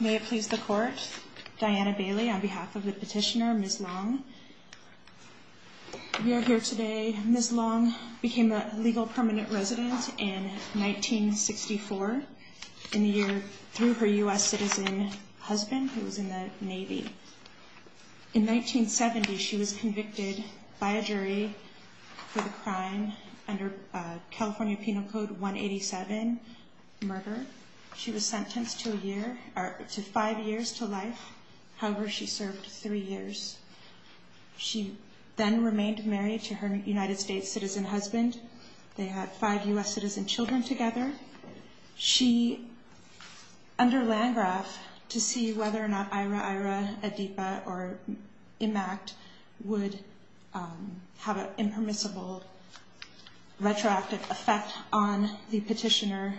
May it please the court, Diana Bailey on behalf of the petitioner Ms. Long. We are here today. Ms. Long became a legal permanent resident in 1964 in the year through her US citizen husband who was in the Navy. In 1970 she was convicted by a jury for the crime under California Penal Code 187, murder. She was sentenced to a year or to five years to life. However, she served three years. She then remained married to her United States citizen husband. They had five US citizen children together. She, under Landgraf, to see whether or not IRA, IRA, ADIPA or IMACT would have an impermissible retroactive effect on the defendant.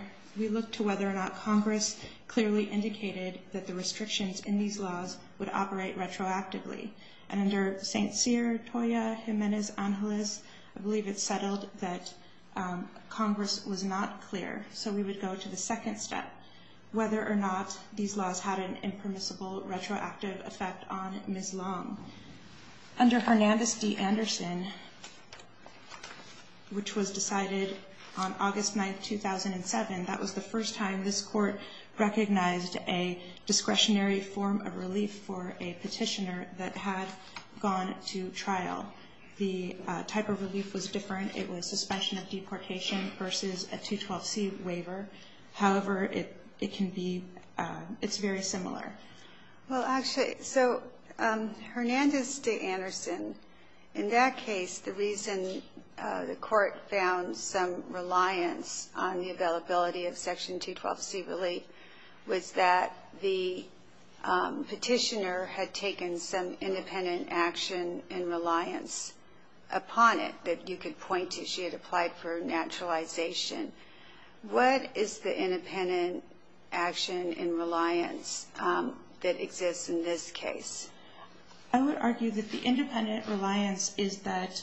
Clearly indicated that the restrictions in these laws would operate retroactively. And under St. Cyr, Toya, Jimenez, Angelis, I believe it's settled that Congress was not clear. So we would go to the second step. Whether or not these laws had an impermissible retroactive effect on Ms. Long. Under Hernandez D. Anderson, which was decided on August 9th 2007, that was the first time this court recognized a discretionary form of relief for a petitioner that had gone to trial. The type of relief was different. It was suspension of deportation versus a 212C waiver. However, it can be, it's very similar. Well actually, so Hernandez D. Anderson, in that case, the reason the court found some reliance on the availability of Section 212C relief was that the petitioner had taken some independent action in reliance upon it that you could point to. She had applied for naturalization. What is the independent action in reliance that exists in this case? I would argue that the independent reliance is that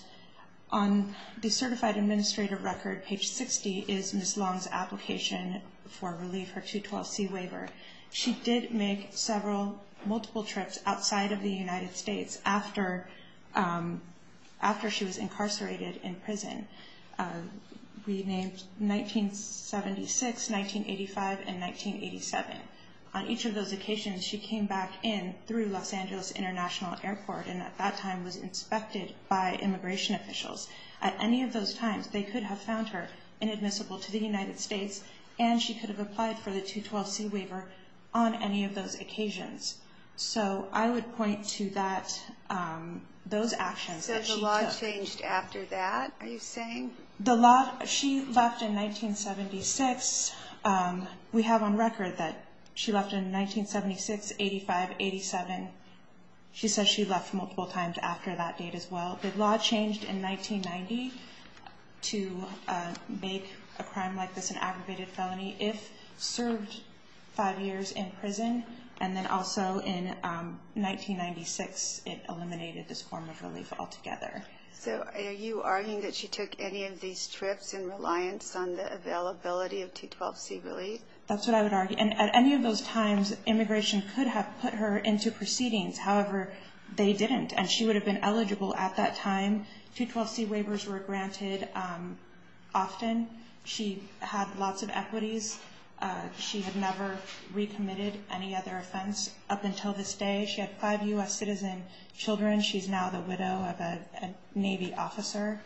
on the certified administrative record, page 60, is Ms. Long's application for relief, her 212C waiver. She did make several, multiple trips outside of the United States after she was incarcerated in prison. Renamed 1976, 1985, and 1987. On each of those occasions, she came back in through Los Angeles International Airport and at that time was inspected by immigration officials. At any of those times, they could have found her inadmissible to the United States and she could have applied for the 212C waiver on any of those occasions. So I would point to that, those actions. So the law changed after that, are you saying? The law, she left in 1976. We have on record that she left in 1976, 85, 87. She says she left multiple times after that date as well. The law changed in 1990 to make a crime like this an aggravated felony if served five years in prison and then also in 1996 it eliminated this form of relief altogether. So are you arguing that she took any of these trips in reliance on the availability of 212C relief? That's what I would argue. And at any of those times, immigration could have put her into proceedings. However, they didn't and she would have been eligible at that time. 212C waivers were granted often. She had lots of equities. She had never recommitted any other offense up until this day. She had five U.S. citizen children. She's now the widow of a Navy officer.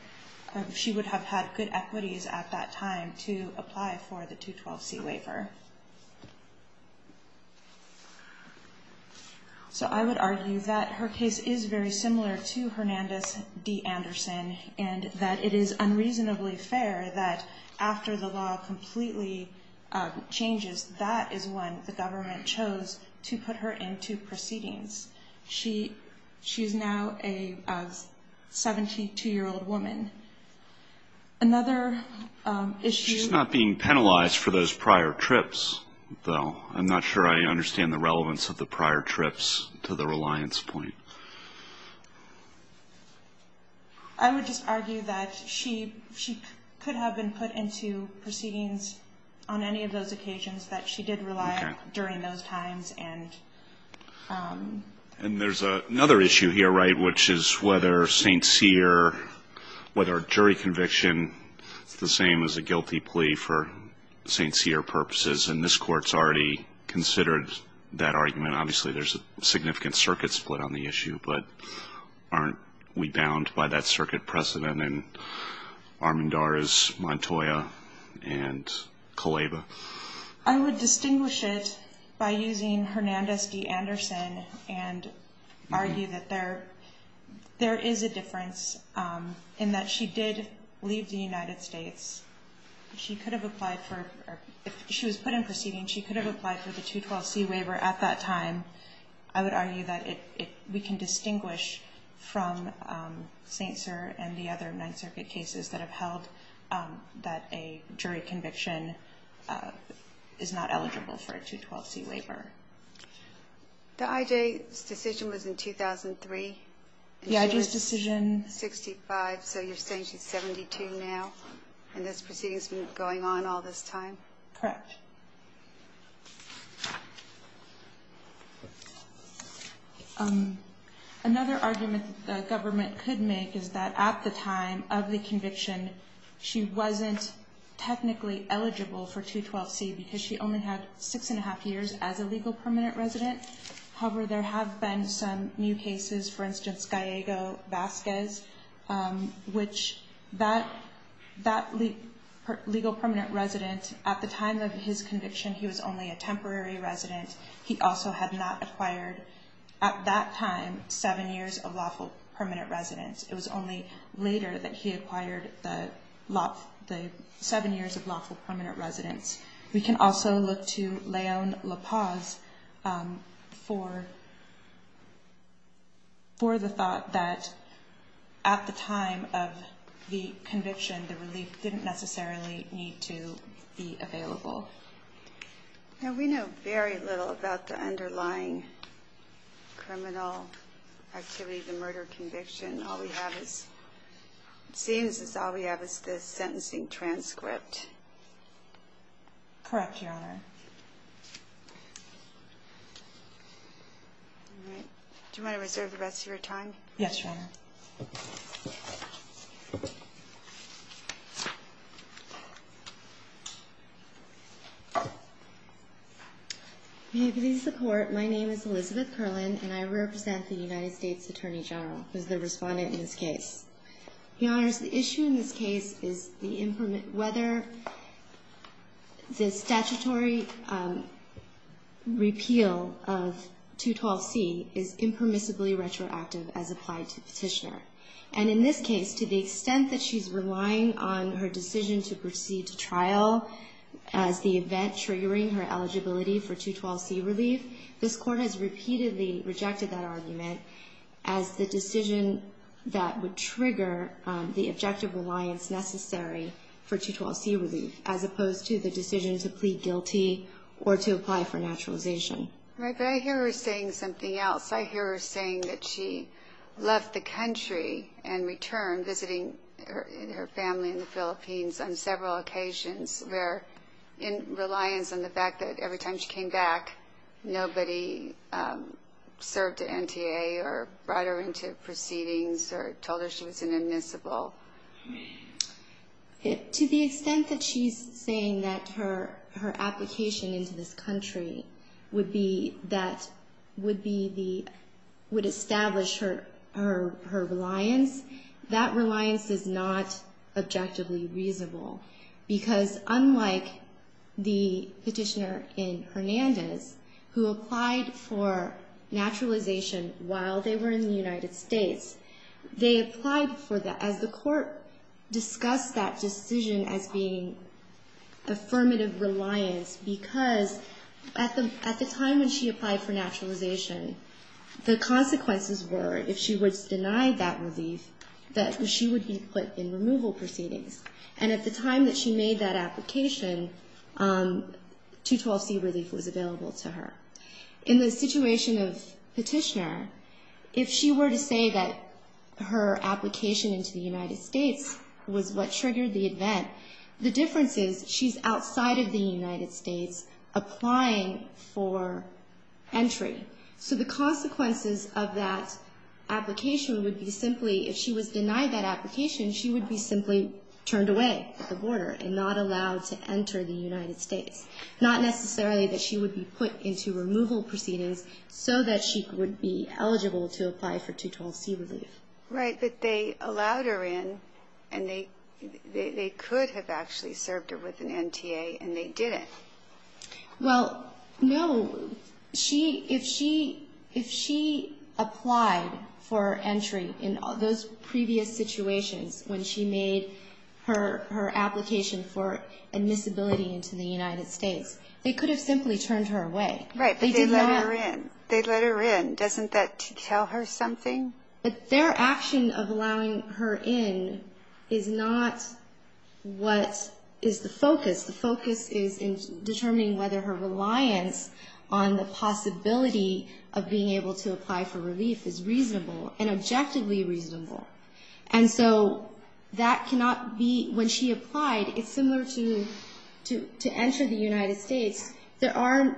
She would have had good equities at that time to apply for the 212C waiver. So I would argue that her case is very similar to Hernandez D. Anderson and that it is unreasonably fair that after the law completely changes, that is when the government chose to put her into proceedings. She's now a 72-year-old woman. Another issue... She's not being penalized for those prior trips, though. I'm not sure I understand the relevance of the prior trips to the reliance point. I would just argue that she could have been put into proceedings on any of those occasions that she did rely on during those times. And there's another issue here, right, which is whether St. Cyr, whether a jury conviction is the same as a guilty plea for St. Cyr purposes. And this Court's already considered that argument. Obviously, there's a significant circuit split on the issue, but aren't we bound by that circuit precedent? And Armendar is Montoya and Kaleva. I would distinguish it by using Hernandez D. Anderson and argue that there is a difference in that she did leave the United States. She could have applied for... If she was put in proceedings, she could have applied for the 212C waiver at that time. I would argue that we can distinguish from St. Cyr and the other 9th Circuit cases that have held that a jury conviction is not eligible for a 212C waiver. The I.J.'s decision was in 2003, and she's 65, so you're saying she's 72 now, and this proceeding's been going on all this time? Correct. Another argument that the government could make is that at the time of the conviction, she wasn't technically eligible for 212C because she only had six and a half years as a legal permanent resident. However, there have been some new cases, for instance, Gallego-Vasquez, which that legal permanent resident, at the time of his conviction, he was only a temporary resident. He also had not acquired, at that time, seven years of lawful permanent residence. It was only later that he acquired the seven years of lawful permanent residence. We can also look to Leon La Paz for the thought that at the time of the conviction, he was not eligible for 212C. We know very little about the underlying criminal activity of the murder conviction. All we have is the sentencing transcript. Correct, Your Honor. Do you want to reserve the rest of your time? Yes, Your Honor. May it please the Court, my name is Elizabeth Curlin, and I represent the United States Attorney General, who is the respondent in this case. Your Honor, the issue in this case is whether the statutory repeal of 212C is necessary. In this case, to the extent that she's relying on her decision to proceed to trial as the event triggering her eligibility for 212C relief, this Court has repeatedly rejected that argument as the decision that would trigger the objective reliance necessary for 212C relief, as opposed to the decision to plead guilty or to apply for naturalization. Right, but I hear her saying something else. I hear her saying that she left the country and returned, visiting her family in the Philippines on several occasions where, in reliance on the fact that every time she came back, nobody served at NTA or brought her into proceedings or told her she was an admissible. To the extent that she's saying that her application into this country would establish her reliance, that reliance is not objectively reasonable, because unlike the petitioner in Hernandez, who applied for naturalization while they were in the United States, they applied for that as the Court discussed that decision as being affirmative reliance, because at the time when she applied for naturalization, the consequences were, if she was denied that relief, that she would be put in removal proceedings. And at the time that she made that application, 212C relief was available to her. In the situation of petitioner, if she were to say that her application into the United States was what triggered the event, the difference is she's outside of the United States applying for entry. So the consequences of that application would be simply, if she was denied that application, she would be simply turned away at the border and not allowed to enter the United States, not necessarily that she would be put into removal proceedings so that she would be eligible to apply for 212C relief. Right. But they allowed her in, and they could have actually served her with an NTA, and they didn't. Well, no. If she applied for entry in those previous situations when she made her application for admissibility into the United States, they could have simply turned her away. Right. But they let her in. They let her in. Doesn't that tell her something? But their action of allowing her in is not what is the focus. The focus is in determining whether her reliance on the possibility of being able to apply for relief is reasonable and objectively reasonable. And so that cannot be, when she applied, it's similar to enter the United States, there are,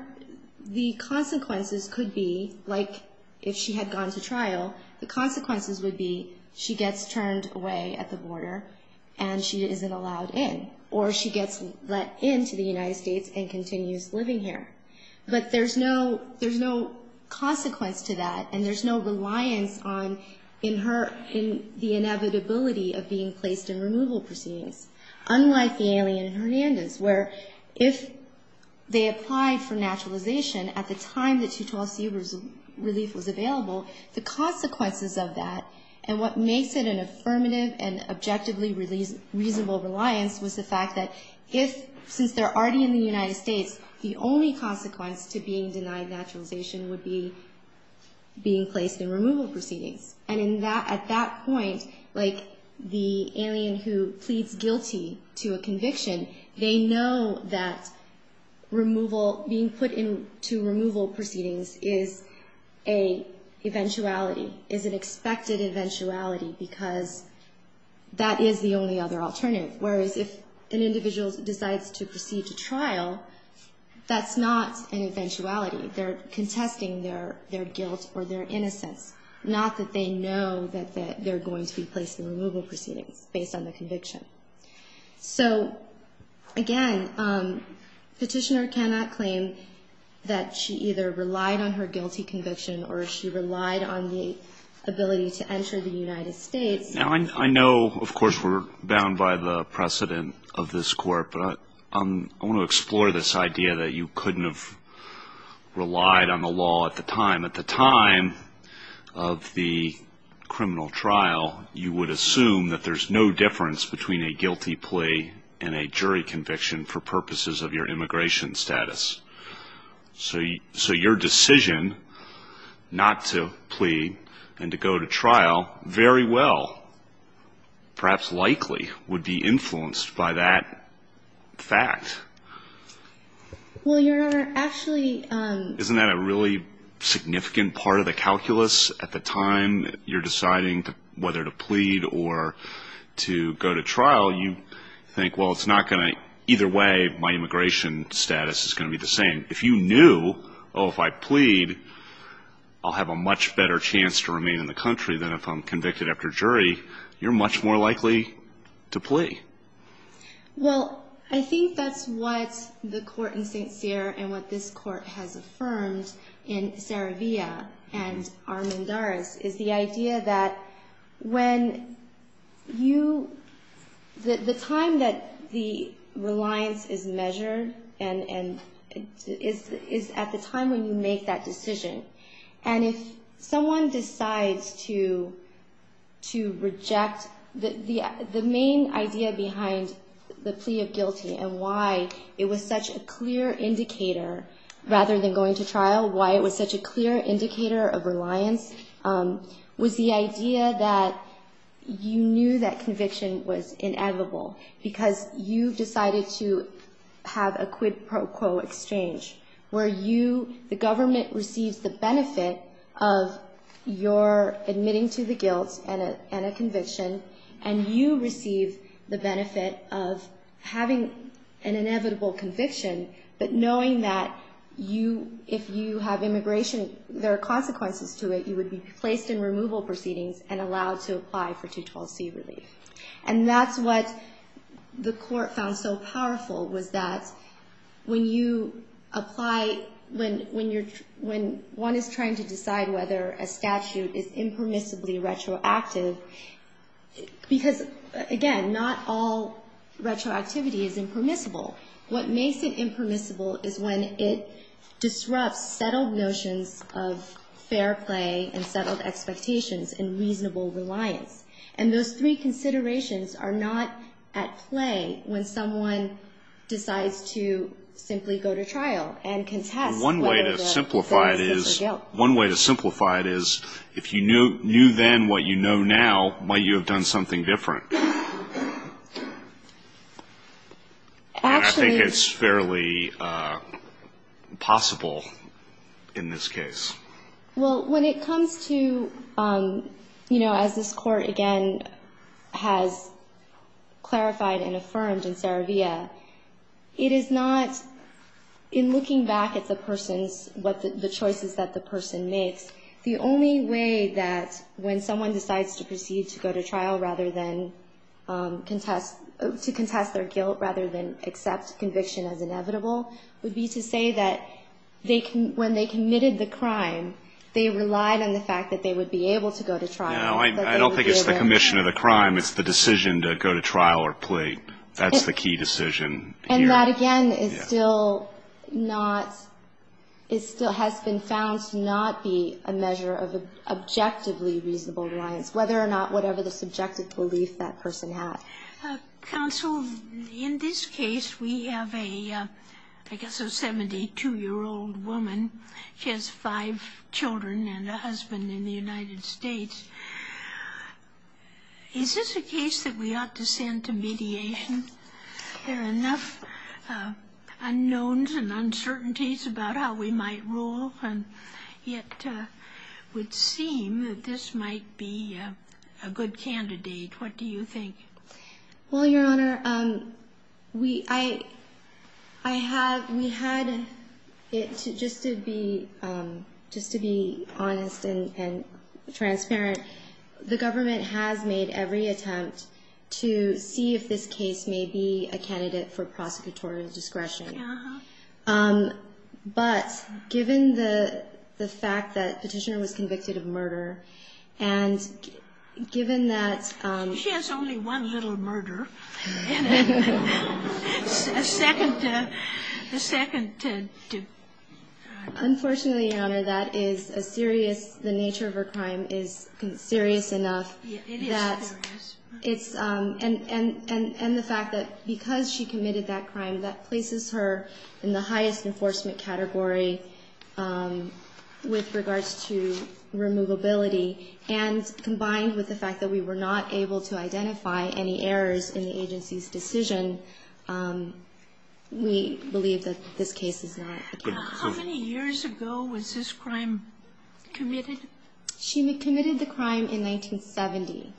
the consequences could be, like if she had gone to trial, the consequences would be she gets turned away at the border and she isn't allowed in, or she gets let in to the United States and continues living here. But there's no, there's no consequence to that, and there's no reliance on, in her, in the inevitability of being placed in removal proceedings, unlike the alien in Hernandez, where if they applied for 12C relief was available, the consequences of that and what makes it an affirmative and objectively reasonable reliance was the fact that if, since they're already in the United States, the only consequence to being denied naturalization would be being placed in removal proceedings. And in that, at that point, like the alien who pleads guilty to a conviction, they know that removal, being put into removal proceedings is a eventuality, is an expected eventuality, because that is the only other alternative. Whereas if an individual decides to proceed to trial, that's not an eventuality. They're contesting their guilt or their innocence, not that they know that they're going to be placed in removal proceedings based on the conviction. So, again, Petitioner cannot claim that she either relied on her guilty conviction or she relied on the ability to enter the United States. Now, I know, of course, we're bound by the precedent of this Court, but I want to explore this idea that you couldn't have relied on the law at the time. At the time of the criminal trial, you would assume that there's no difference between a guilty plea and a jury conviction for purposes of your immigration status. So your decision not to plead and to go to trial very well, perhaps likely, would be influenced by that fact. Isn't that a really significant part of the calculus at the time you're deciding whether to plead or to go to trial? You think, well, it's not going to, either way, my immigration status is going to be the same. If you knew, oh, if I plead, I'll have a much better chance to remain in the country than if I'm convicted after jury, you're much more likely to plea. Well, I think that's what the Court in St. Cyr and what this Court has affirmed in Saravia and Armendaris is the idea that when you, the time that the reliance is measured is at the time when you make that decision. And if someone decides to reject, the main idea behind the plea of guilty and why it was such a clear indicator, rather than going to trial, why it was such a clear indicator of reliance was the idea that you knew that conviction was inevitable because you decided to have a quid pro quo exchange where you, the government receives the benefit of your admitting to the guilt and a conviction and you receive the benefit of having an acquittal knowing that you, if you have immigration, there are consequences to it. You would be placed in removal proceedings and allowed to apply for 212C relief. And that's what the Court found so powerful was that when you apply, when one is trying to decide whether a statute is impermissibly retroactive, because, again, not all retroactivity is impermissible, what makes it impermissible is when it disrupts settled notions of fair play and settled expectations and reasonable reliance. And those three considerations are not at play when someone decides to simply go to trial and contest whether the sentence is for guilt. One way to simplify it is if you knew then what you know now, might you have done something different? And I think it's fairly possible in this case. Well, when it comes to, you know, as this Court, again, has clarified and affirmed in Saravia, it is not, in looking back at the person's, the choices that the person makes, the only way that when someone decides to proceed to go to trial rather than contest, to contest their guilt rather than accept conviction as inevitable would be to say that when they committed the crime, they relied on the fact that they would be able to go to trial. No, I don't think it's the commission of the crime. It's the decision to go to trial or plea. That's the key decision here. And that, again, is still not, it still has been found to not be a measure of objectively reasonable reliance, whether or not whatever the subjective belief that person had. Counsel, in this case, we have a, I guess a 72-year-old woman. She has five children and a husband in the United States. Is this a case that we ought to send to mediation? There are enough unknowns and uncertainties about how we might rule, and yet it would seem that this might be a good candidate. What do you think? Well, Your Honor, we, I, I have, we had it just to be, just to be honest and transparent that the government has made every attempt to see if this case may be a candidate for prosecutorial discretion. But given the, the fact that Petitioner was convicted of murder, and given that. She has only one little murder. A second, a second to. Unfortunately, Your Honor, that is a serious, the nature of her crime is serious enough that it's, and, and, and the fact that because she committed that crime, that places her in the highest enforcement category with regards to removability. And combined with the fact that we were not able to identify any errors in the agency's decision, we believe that this case is not a candidate. How many years ago was this crime committed? She committed the crime in 1970.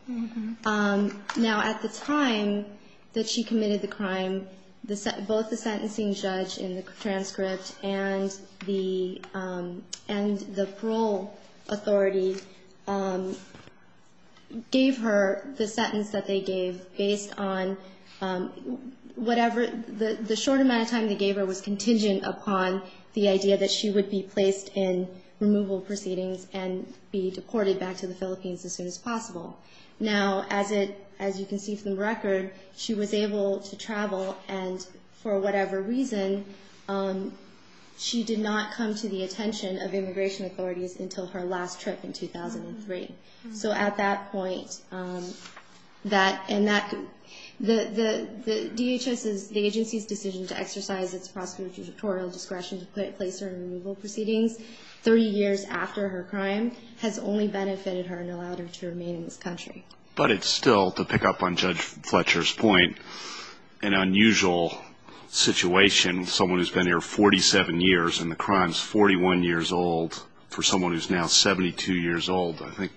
Now, at the time that she committed the crime, the, both the sentencing judge in the transcript and the, and the parole authority gave her the sentence that they gave based on whatever, the, the short amount of time they gave her was contingent upon the idea that she would be placed in removal proceedings and be deported back to the Philippines as soon as possible. Now, as it, as you can see from the record, she was able to travel, and for whatever reason, she did not come to the attention of immigration authorities until her last trip in 2003. So at that point, that, and that, the, the, the DHS's, the agency's decision to exercise its prosecutorial discretion to put, place her in removal proceedings 30 years after her crime has only benefited her and allowed her to remain in this country. But it's still, to pick up on Judge Fletcher's point, an unusual situation, someone who's been here 47 years and the crime's 41 years old, for someone who's now 72 years old, I think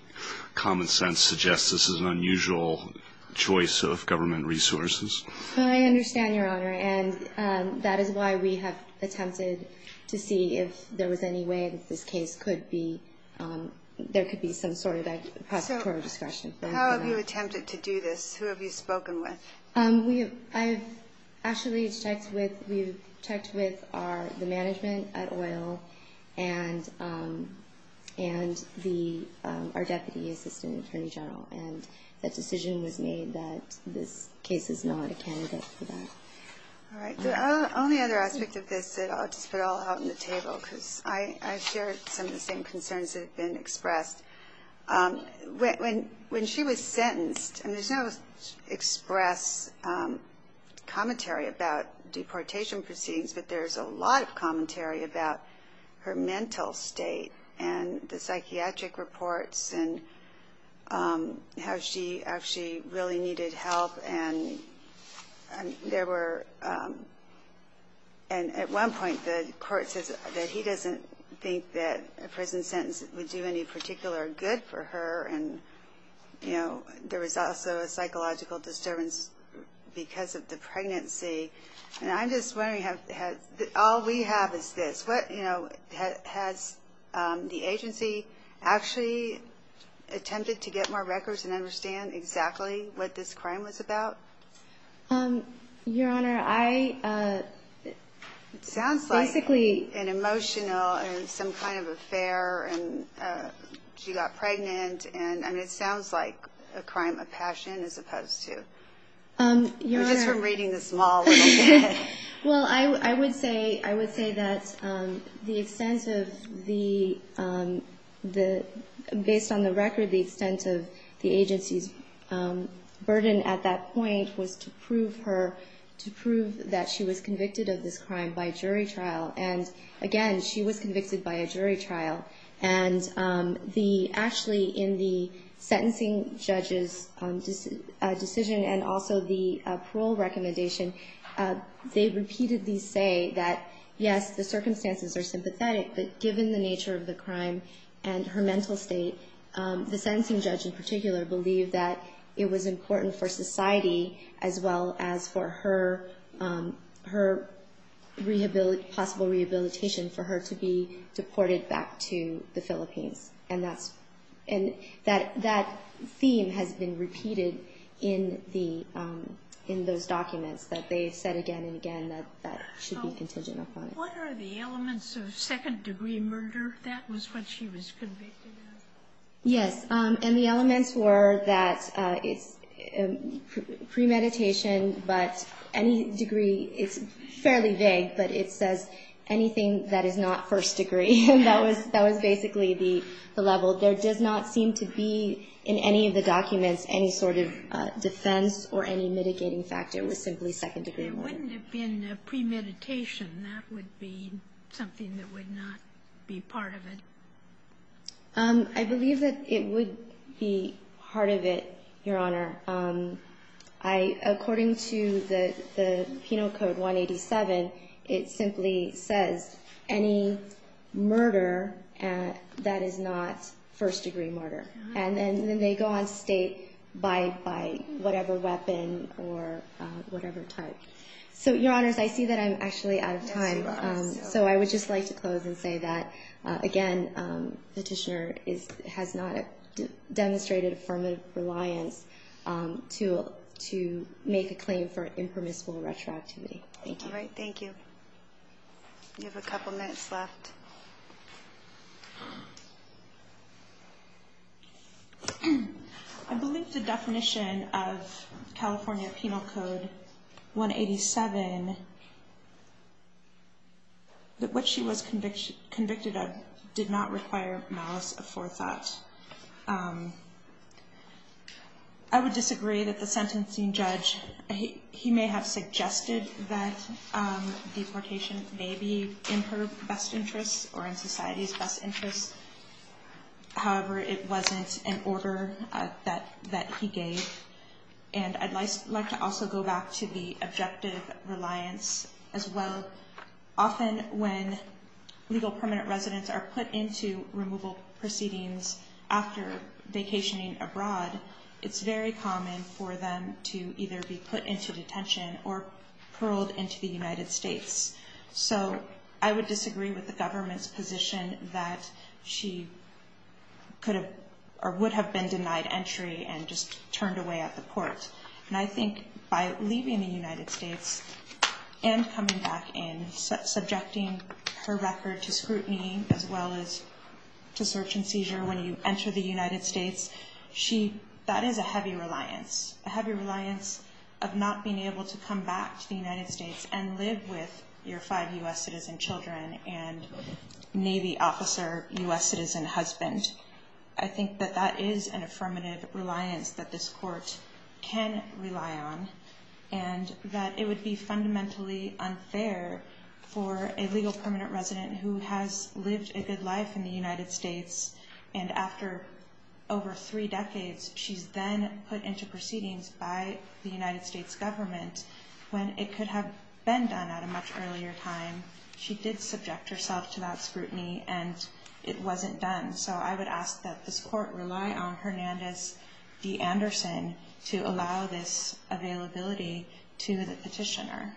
common sense suggests this is an unusual choice of government resources. Well, I understand, Your Honor, and that is why we have attempted to see if there was any way that this case could be, there could be some sort of prosecutorial discretion. So how have you attempted to do this? Who have you spoken with? We have, I have actually checked with, we've checked with our, the management at OIL and, and the, our deputy assistant attorney general. And that decision was made that this case is not a candidate for that. All right, the only other aspect of this that I'll just put all out on the table because I, I share some of the same concerns that have been expressed. When, when, when she was sentenced, and there's no express commentary about deportation proceedings, but there's a lot of commentary about her mental state and the psychiatric reports and how she, how she really needed help. And there were, and at one point the court says that he doesn't think that a prison sentence would do any particular good for her. And, you know, there was also a psychological disturbance because of the pregnancy. And I'm just wondering, have, all we have is this. What, you know, has the agency actually attempted to get more records and understand exactly what this crime was about? Your Honor, I, basically. It sounds like an emotional and some kind of affair and she got pregnant. And I mean, it sounds like a crime of passion as opposed to, just from reading this law a little bit. Well, I would say, I would say that the extent of the, the, based on the record, the extent of the agency's burden at that point was to prove her, to prove that she was convicted of this crime by jury trial. And again, she was convicted by a jury trial. And the, actually in the sentencing judge's decision and also the parole recommendation, they repeatedly say that, yes, the circumstances are sympathetic, but given the nature of the crime and her mental state, the sentencing judge in particular believed that it was important for society as well as for her, her rehabilitation, possible rehabilitation for her to be sent to the Philippines. And that's, and that, that theme has been repeated in the, in those documents that they've said again and again that that should be contingent upon it. What are the elements of second degree murder that was when she was convicted of? Yes. And the elements were that it's premeditation, but any degree, it's fairly vague, but it says anything that is not first degree. And that was, that was basically the level. There does not seem to be in any of the documents any sort of defense or any mitigating factor with simply second degree murder. There wouldn't have been premeditation. That would be something that would not be part of it. I believe that it would be part of it, Your Honor. I, according to the, the Penal Code 187, it simply says any murder that is not first degree murder. And then they go on to state by, by whatever weapon or whatever type. So, Your Honors, I see that I'm actually out of time. So I would just like to close and say that, again, Petitioner is, has not demonstrated affirmative reliance to, to make a claim for an impermissible retroactivity. Thank you. All right. Thank you. You have a couple minutes left. I believe the definition of California Penal Code 187, that what she was convicted of did not require malice of forethought. I would disagree that the sentencing judge, he may have suggested that deportation may be in her best interest or in society's best interest. However, it wasn't an order that, that he gave. And I'd like to also go back to the objective reliance as well. Often when legal permanent residents are put into removal proceedings after vacationing abroad, it's very common for them to either be put into detention or paroled into the United States. So I would disagree with the government's position that she could have, or would have been denied entry and just turned away at the court. And I think by leaving the United States and coming back in, subjecting her record to scrutiny as well as to search and seizure when you enter the United States, she, that is a heavy reliance. A heavy reliance of not being able to come back to the United States and live with your five U.S. citizen children and Navy officer, U.S. citizen husband. And I think that that is an affirmative reliance that this court can rely on. And that it would be fundamentally unfair for a legal permanent resident who has lived a good life in the United States and after over three decades, she's then put into proceedings by the United States government when it could have been done at a much earlier time. She did subject herself to that scrutiny and it wasn't done. So I would ask that this court rely on Hernandez v. Anderson to allow this availability to the petitioner.